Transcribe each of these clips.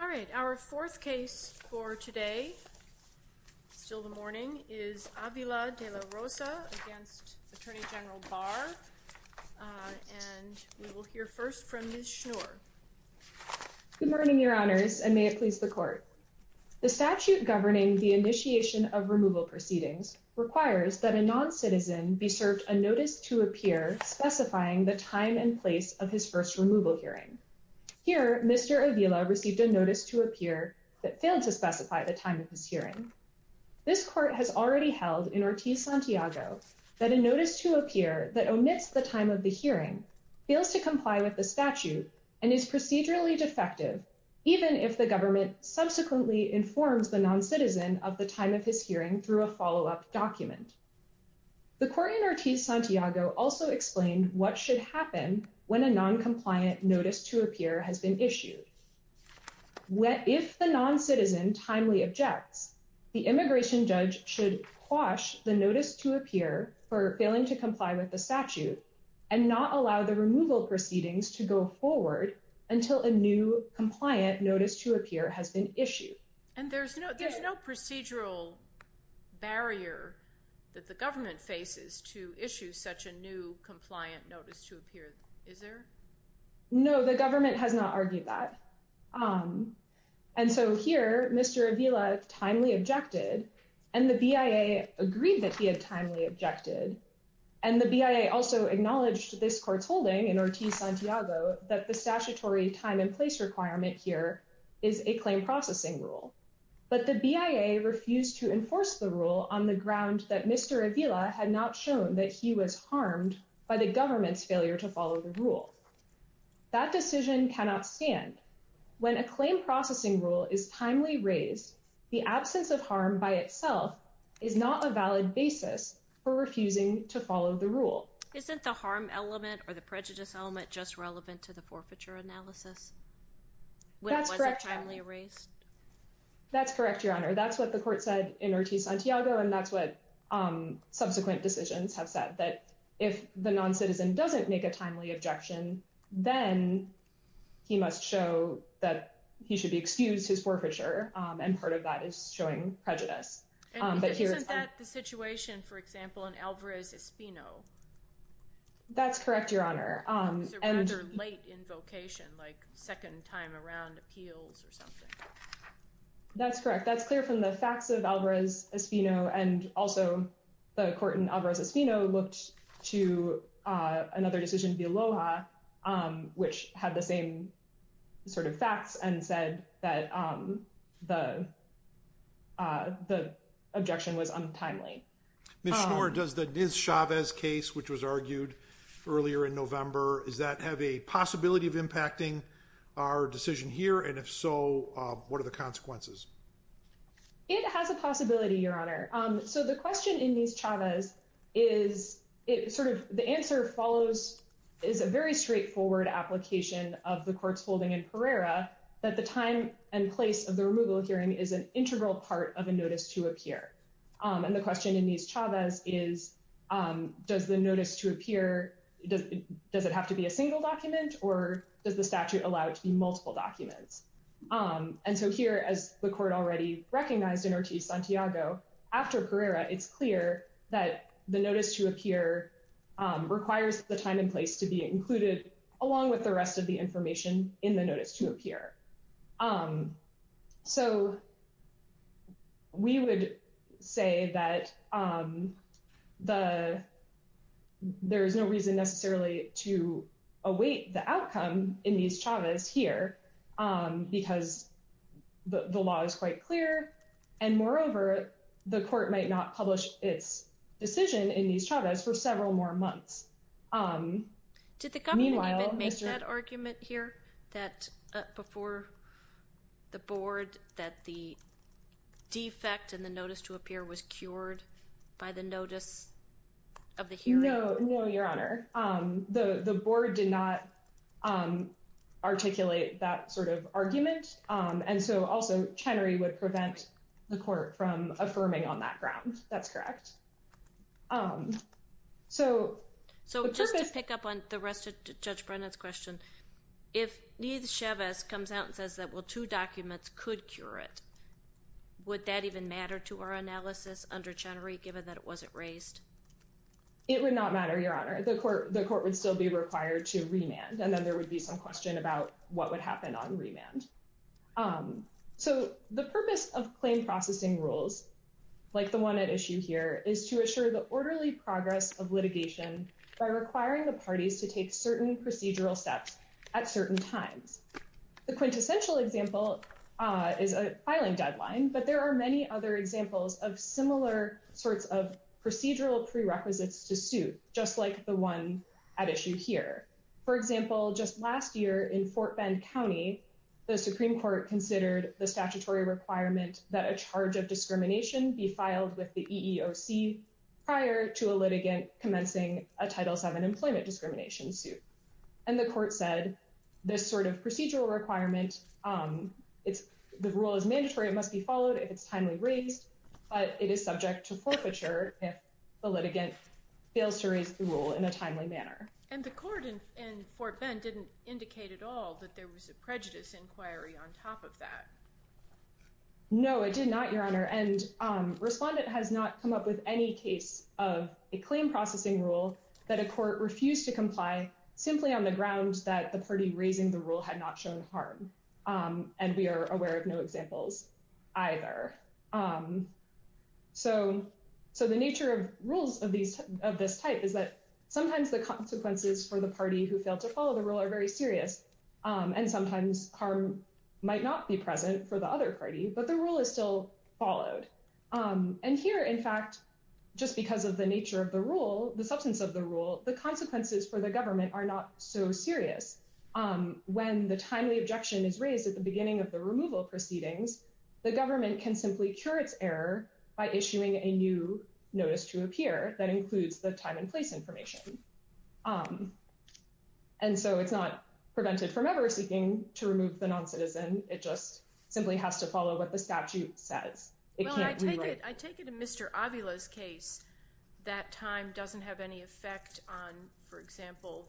All right, our fourth case for today, still the morning, is Avila de la Rosa against Attorney General Barr, and we will hear first from Ms. Schnoor. Good morning, Your Honors, and may it please the Court. The statute governing the initiation of removal proceedings requires that a non-citizen be served a notice to appear specifying the time and place of his first removal hearing. Here, Mr. Avila received a notice to appear that failed to specify the time of his hearing. This Court has already held in Ortiz-Santiago that a notice to appear that omits the time of the hearing fails to comply with the statute and is procedurally defective, even if the government subsequently informs the non-citizen of the time of his hearing through a follow-up document. The Court in Ortiz-Santiago also explained what should happen when a non-compliant notice to appear has been issued. If the non-citizen timely objects, the immigration judge should quash the notice to appear for failing to comply with the statute and not allow the removal proceedings to go forward until a new compliant notice to appear has been issued. And there's no procedural barrier that the government faces to issue such a new compliant notice to appear, is there? No, the government has not argued that. And so here, Mr. Avila timely objected, and the BIA agreed that he had timely objected. And the BIA also acknowledged this Court's holding in Ortiz-Santiago that the statutory time and place requirement here is a claim processing rule. But the BIA refused to enforce the rule on the ground that Mr. Avila had not shown that he was harmed by the government's failure to follow the rule. That decision cannot stand. When a claim processing rule is timely raised, the absence of harm by itself is not a valid basis for refusing to follow the rule. Isn't the harm element or the prejudice element just relevant to the forfeiture analysis? That's correct, Your Honor. That's what the Court said in Ortiz-Santiago, and that's what subsequent decisions have said, that if the non-citizen doesn't make a timely objection, then he must show that he should be excused his forfeiture. And part of that is showing prejudice. Isn't that the situation, for example, in Alvarez-Espino? That's correct, Your Honor. It's a rather late invocation, like second time around appeals or something. That's correct. That's clear from the facts of Alvarez-Espino, and also the court in Alvarez-Espino looked to another decision to be Aloha, which had the same sort of facts and said that the objection was untimely. Ms. Schnoor, does the Nis-Chavez case, which was argued earlier in November, does that have a possibility of impacting our decision here, and if so, what are the consequences? It has a possibility, Your Honor. So the question in Nis-Chavez is, it sort of, the answer follows, is a very straightforward application of the court's holding in Pereira, that the time and place of the removal hearing is an integral part of a notice to appear. And the question in Nis-Chavez is, does the notice to appear, does it have to be a single document, or does the statute allow it to be multiple documents? And so here, as the court already recognized in Ortiz-Santiago, after Pereira, it's clear that the notice to appear requires the time and place to be included, along with the rest of the information in the notice to appear. So we would say that there is no reason necessarily to await the outcome in Nis-Chavez here, because the law is quite clear, and moreover, the court might not publish its decision in Nis-Chavez for several more months. Did the government even make that argument here, that before the board, that the defect in the notice to appear was cured by the notice of the hearing? No, no, Your Honor. The board did not articulate that sort of argument, and so also Chenery would prevent the court from affirming on that ground. That's correct. So just to pick up on the rest of Judge Brennan's question, if Nis-Chavez comes out and says that, well, two documents could cure it, would that even matter to our analysis under Chenery, given that it wasn't raised? It would not matter, Your Honor. The court would still be required to remand, and then there would be some question about what would happen on remand. So the purpose of claim processing rules, like the one at issue here, is to assure the orderly progress of litigation by requiring the parties to take certain procedural steps at certain times. The quintessential example is a filing deadline, but there are many other examples of similar sorts of procedural prerequisites to suit, just like the one at issue here. For example, just last year in Fort Bend County, the Supreme Court considered the statutory requirement that a charge of discrimination be filed with the EEOC prior to a litigant commencing a Title VII employment discrimination suit. And the court said this sort of procedural requirement, the rule is mandatory, it must be followed if it's timely raised, but it is subject to forfeiture if the litigant fails to raise the rule in a timely manner. And the court in Fort Bend didn't indicate at all that there was a prejudice inquiry on top of that. No, it did not, Your Honor, and Respondent has not come up with any case of a claim processing rule that a court refused to comply simply on the ground that the party raising the rule had not shown harm. And we are aware of no examples either. So the nature of rules of this type is that sometimes the consequences for the party who failed to follow the rule are very serious. And sometimes harm might not be present for the other party, but the rule is still followed. And here, in fact, just because of the nature of the rule, the substance of the rule, the consequences for the government are not so serious. When the timely objection is raised at the beginning of the removal proceedings, the government can simply cure its error by issuing a new notice to appear that includes the time and place information. And so it's not prevented from ever seeking to remove the non-citizen, it just simply has to follow what the statute says. Well, I take it in Mr. Avila's case, that time doesn't have any effect on, for example,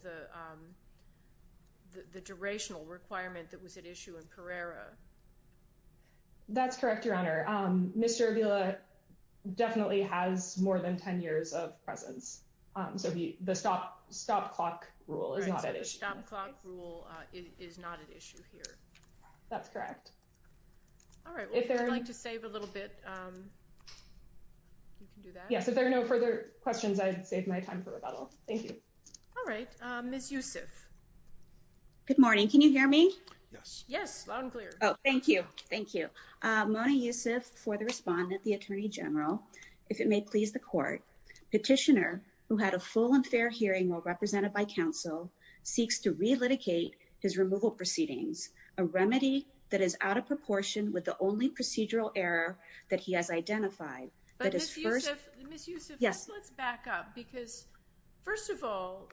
the durational requirement that was at issue in Pereira. That's correct, Your Honor. Mr. Avila definitely has more than 10 years of presence. So the stop clock rule is not at issue. So the stop clock rule is not at issue here. That's correct. All right. If you'd like to save a little bit, you can do that. Yes, if there are no further questions, I'd save my time for rebuttal. Thank you. All right. Ms. Yusuf. Good morning. Can you hear me? Yes. Yes, loud and clear. Oh, thank you. Thank you. Mona Yusuf, for the respondent, the Attorney General. If it may please the court, petitioner who had a full and fair hearing while represented by counsel, seeks to relitigate his removal proceedings, a remedy that is out of proportion with the only procedural error that he has identified. But Ms. Yusuf, let's back up. Because, first of all,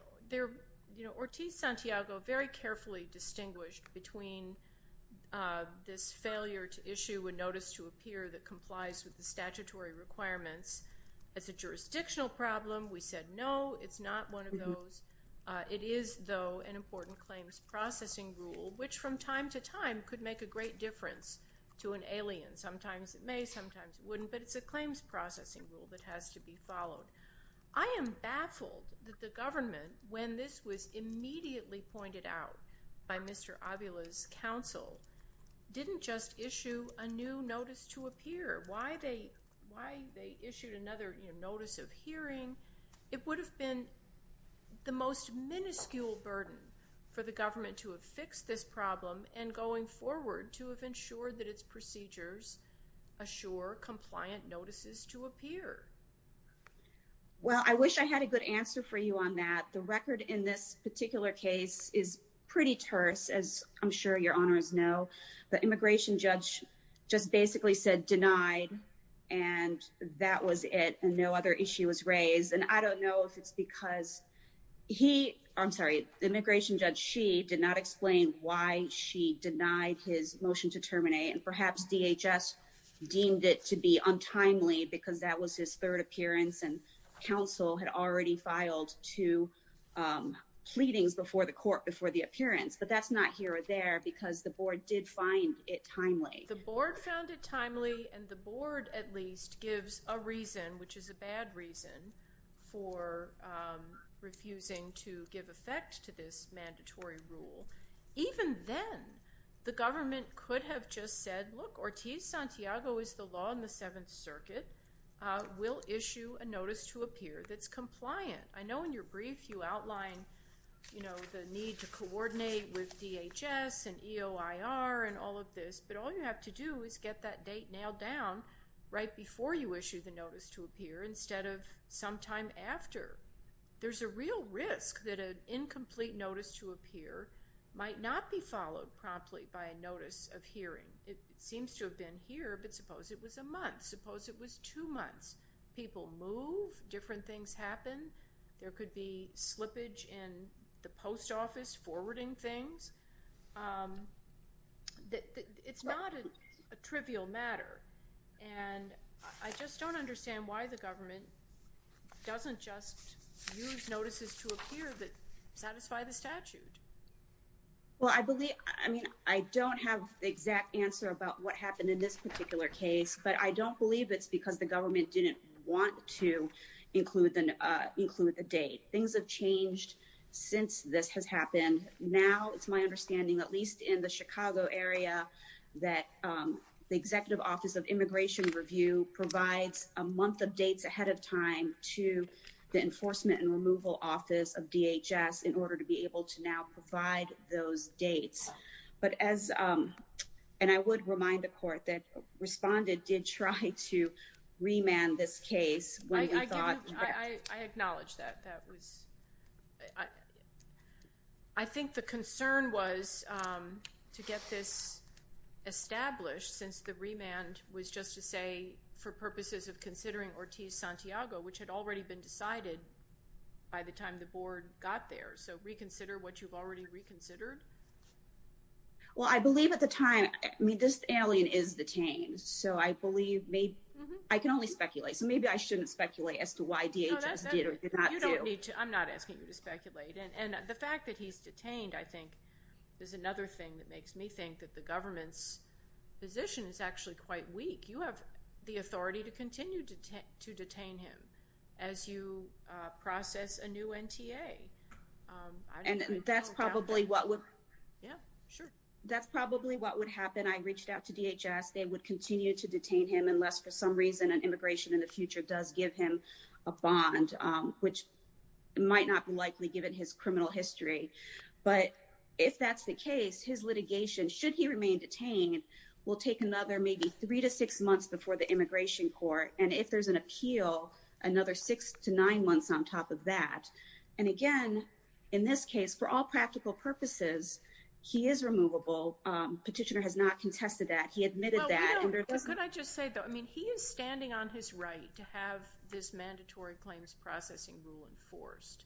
Ortiz-Santiago very carefully distinguished between this failure to issue a notice to a peer that complies with the statutory requirements as a jurisdictional problem. We said no, it's not one of those. It is, though, an important claims processing rule, which from time to time could make a great difference to an alien. Sometimes it may, sometimes it wouldn't. But it's a claims processing rule that has to be followed. I am baffled that the government, when this was immediately pointed out by Mr. Avila's counsel, didn't just issue a new notice to a peer. Why they issued another notice of hearing, it would have been the most minuscule burden for the government to have fixed this problem and going forward to have ensured that its procedures assure compliant notices to a peer. Well, I wish I had a good answer for you on that. The record in this particular case is pretty terse, as I'm sure your honors know. The immigration judge just basically said denied and that was it and no other issue was raised. And I don't know if it's because he, I'm sorry, the immigration judge, she did not explain why she denied his motion to terminate. And perhaps DHS deemed it to be untimely because that was his third appearance and counsel had already filed two pleadings before the court before the appearance. But that's not here or there because the board did find it timely. The board found it timely and the board, at least, gives a reason, which is a bad reason, for refusing to give effect to this mandatory rule. Even then, the government could have just said, look, Ortiz-Santiago is the law in the Seventh Circuit. We'll issue a notice to a peer that's compliant. I know in your brief you outline, you know, the need to coordinate with DHS and EOIR and all of this, but all you have to do is get that date nailed down right before you issue the notice to a peer instead of sometime after. There's a real risk that an incomplete notice to a peer might not be followed promptly by a notice of hearing. It seems to have been here, but suppose it was a month. Suppose it was two months. People move. Different things happen. There could be slippage in the post office forwarding things. It's not a trivial matter. And I just don't understand why the government doesn't just use notices to a peer that satisfy the statute. Well, I believe, I mean, I don't have the exact answer about what happened in this particular case, but I don't believe it's because the government didn't want to include the date. Things have changed since this has happened. Now it's my understanding, at least in the Chicago area, that the Executive Office of Immigration Review provides a month of dates ahead of time to the Enforcement and Removal Office of DHS in order to be able to now provide those dates. But as, and I would remind the court that Respondent did try to remand this case. I acknowledge that. That was, I think the concern was to get this established since the remand was just to say for purposes of considering Ortiz-Santiago, which had already been decided by the time the board got there. So reconsider what you've already reconsidered. Well, I believe at the time, I mean, this alien is detained. So I believe, I can only speculate. So maybe I shouldn't speculate as to why DHS did or did not do. You don't need to, I'm not asking you to speculate. And the fact that he's detained, I think, is another thing that makes me think that the government's position is actually quite weak. You have the authority to continue to detain him as you process a new NTA. And that's probably what would. Yeah, sure. That's probably what would happen. I mean, if the board and I reached out to DHS, they would continue to detain him unless for some reason an immigration in the future does give him a bond, which might not be likely given his criminal history. But if that's the case, his litigation, should he remain detained, will take another maybe three to six months before the immigration court. And if there's an appeal, another six to nine months on top of that. And again, in this case, for all practical purposes, he is removable. Petitioner has not contested that. He admitted that. Could I just say, though, I mean, he is standing on his right to have this mandatory claims processing rule enforced.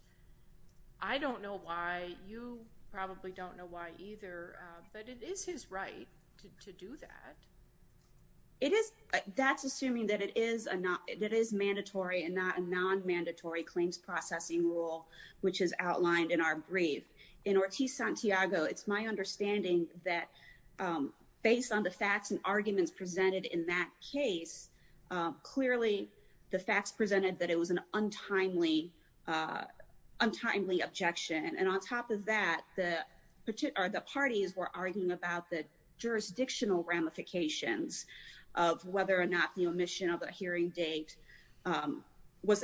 I don't know why. You probably don't know why either. But it is his right to do that. It is. That's assuming that it is mandatory and not a nonmandatory claims processing rule, which is outlined in our brief. In Ortiz-Santiago, it's my understanding that based on the facts and arguments presented in that case, clearly the facts presented that it was an untimely objection. And on top of that, the parties were arguing about the jurisdictional ramifications of whether or not the omission of a hearing date was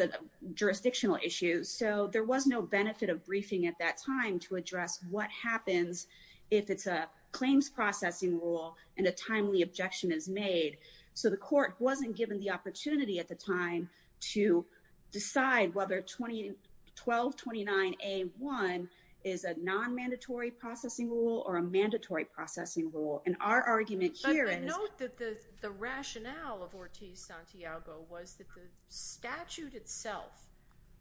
a jurisdictional issue. So there was no benefit of briefing at that time to address what happens if it's a claims processing rule and a timely objection is made. So the court wasn't given the opportunity at the time to decide whether 1229A1 is a nonmandatory processing rule or a mandatory processing rule. But note that the rationale of Ortiz-Santiago was that the statute itself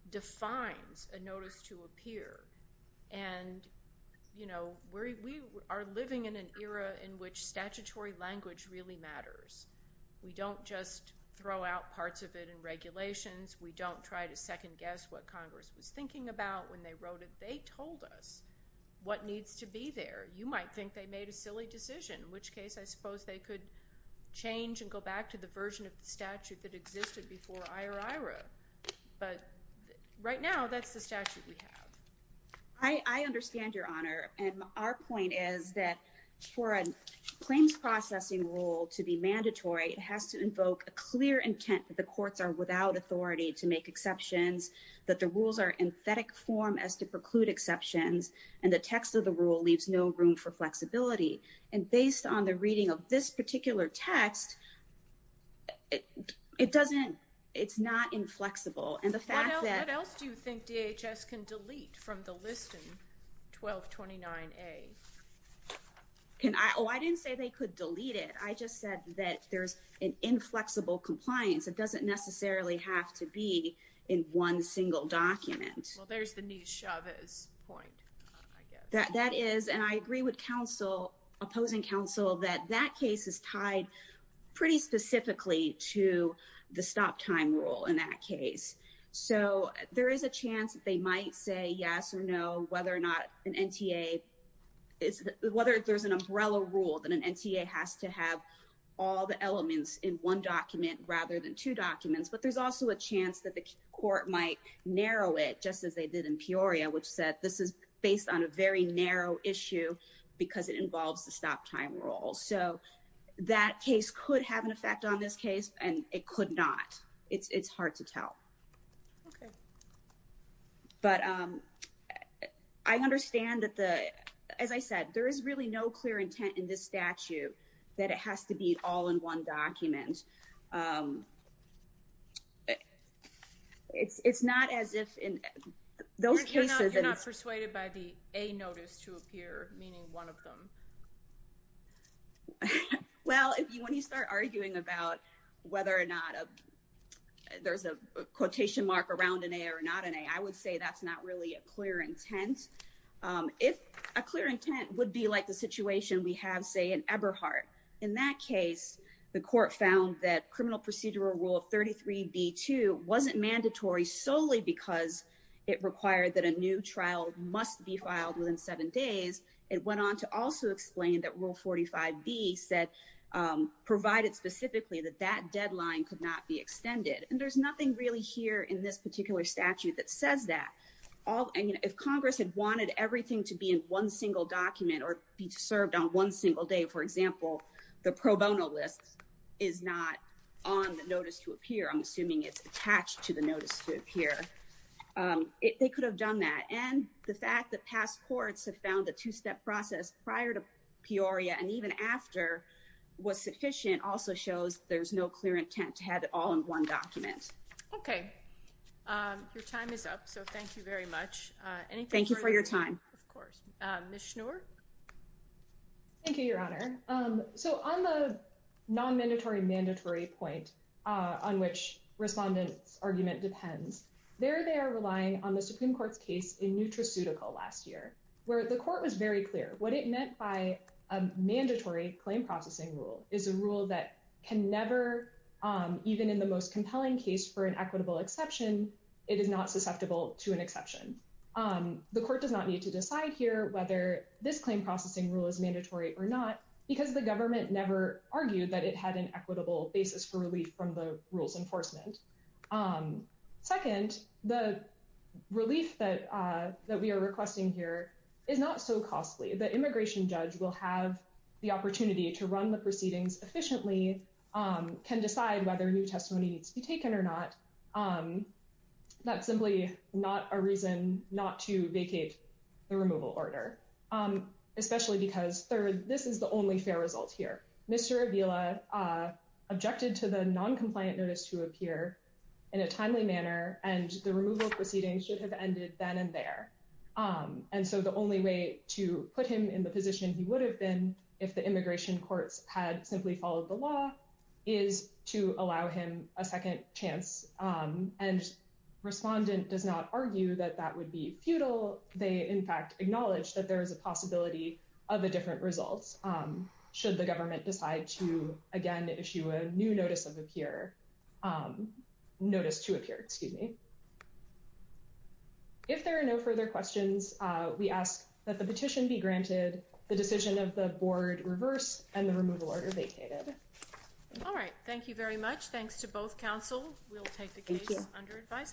defines a notice to appear. And we are living in an era in which statutory language really matters. We don't just throw out parts of it in regulations. We don't try to second guess what Congress was thinking about when they wrote it. They told us what needs to be there. You might think they made a silly decision, in which case I suppose they could change and go back to the version of the statute that existed before IORIRA. But right now, that's the statute we have. I understand, Your Honor. And our point is that for a claims processing rule to be mandatory, it has to invoke a clear intent that the courts are without authority to make exceptions, that the rules are in emphatic form as to preclude exceptions, and the text of the rule leaves no room for flexibility. And based on the reading of this particular text, it doesn't—it's not inflexible. And the fact that— What else do you think DHS can delete from the list in 1229A? Oh, I didn't say they could delete it. I just said that there's an inflexible compliance. It doesn't necessarily have to be in one single document. Well, there's the new Chavez point, I guess. That is—and I agree with counsel, opposing counsel, that that case is tied pretty specifically to the stop time rule in that case. So there is a chance that they might say yes or no, whether or not an NTA—whether there's an umbrella rule that an NTA has to have all the elements in one document rather than two documents. But there's also a chance that the court might narrow it, just as they did in Peoria, which said this is based on a very narrow issue because it involves the stop time rule. So that case could have an effect on this case, and it could not. It's hard to tell. Okay. But I understand that the—as I said, there is really no clear intent in this statute that it has to be all in one document. It's not as if in those cases— You're not persuaded by the A notice to appear, meaning one of them. Well, when you start arguing about whether or not there's a quotation mark around an A or not an A, I would say that's not really a clear intent. A clear intent would be like the situation we have, say, in Eberhardt. In that case, the court found that criminal procedural Rule 33b-2 wasn't mandatory solely because it required that a new trial must be filed within seven days. It went on to also explain that Rule 45b said—provided specifically that that deadline could not be extended. And there's nothing really here in this particular statute that says that. If Congress had wanted everything to be in one single document or be served on one single day, for example, the pro bono list is not on the notice to appear. I'm assuming it's attached to the notice to appear. They could have done that. And the fact that past courts have found the two-step process prior to Peoria and even after was sufficient also shows there's no clear intent to have it all in one document. Okay. Your time is up, so thank you very much. Thank you for your time. Of course. Ms. Schnur? Thank you, Your Honor. So on the non-mandatory-mandatory point on which respondents' argument depends, there they are relying on the Supreme Court's case in NutraCeutical last year, where the court was very clear. What it meant by a mandatory claim processing rule is a rule that can never, even in the most compelling case for an equitable exception, it is not susceptible to an exception. The court does not need to decide here whether this claim processing rule is mandatory or not because the government never argued that it had an equitable basis for relief from the rules enforcement. Second, the relief that we are requesting here is not so costly. The immigration judge will have the opportunity to run the proceedings efficiently, can decide whether new testimony needs to be taken or not. That's simply not a reason not to vacate the removal order, especially because, third, this is the only fair result here. Mr. Avila objected to the non-compliant notice to appear in a timely manner, and the removal proceedings should have ended then and there. And so the only way to put him in the position he would have been if the immigration courts had simply followed the law is to allow him a second chance. And respondent does not argue that that would be futile. They, in fact, acknowledge that there is a possibility of a different result should the government decide to, again, issue a new notice to appear. If there are no further questions, we ask that the petition be granted, the decision of the board reversed, and the removal order vacated. All right. Thank you very much. Thanks to both counsel. We'll take the case under advice.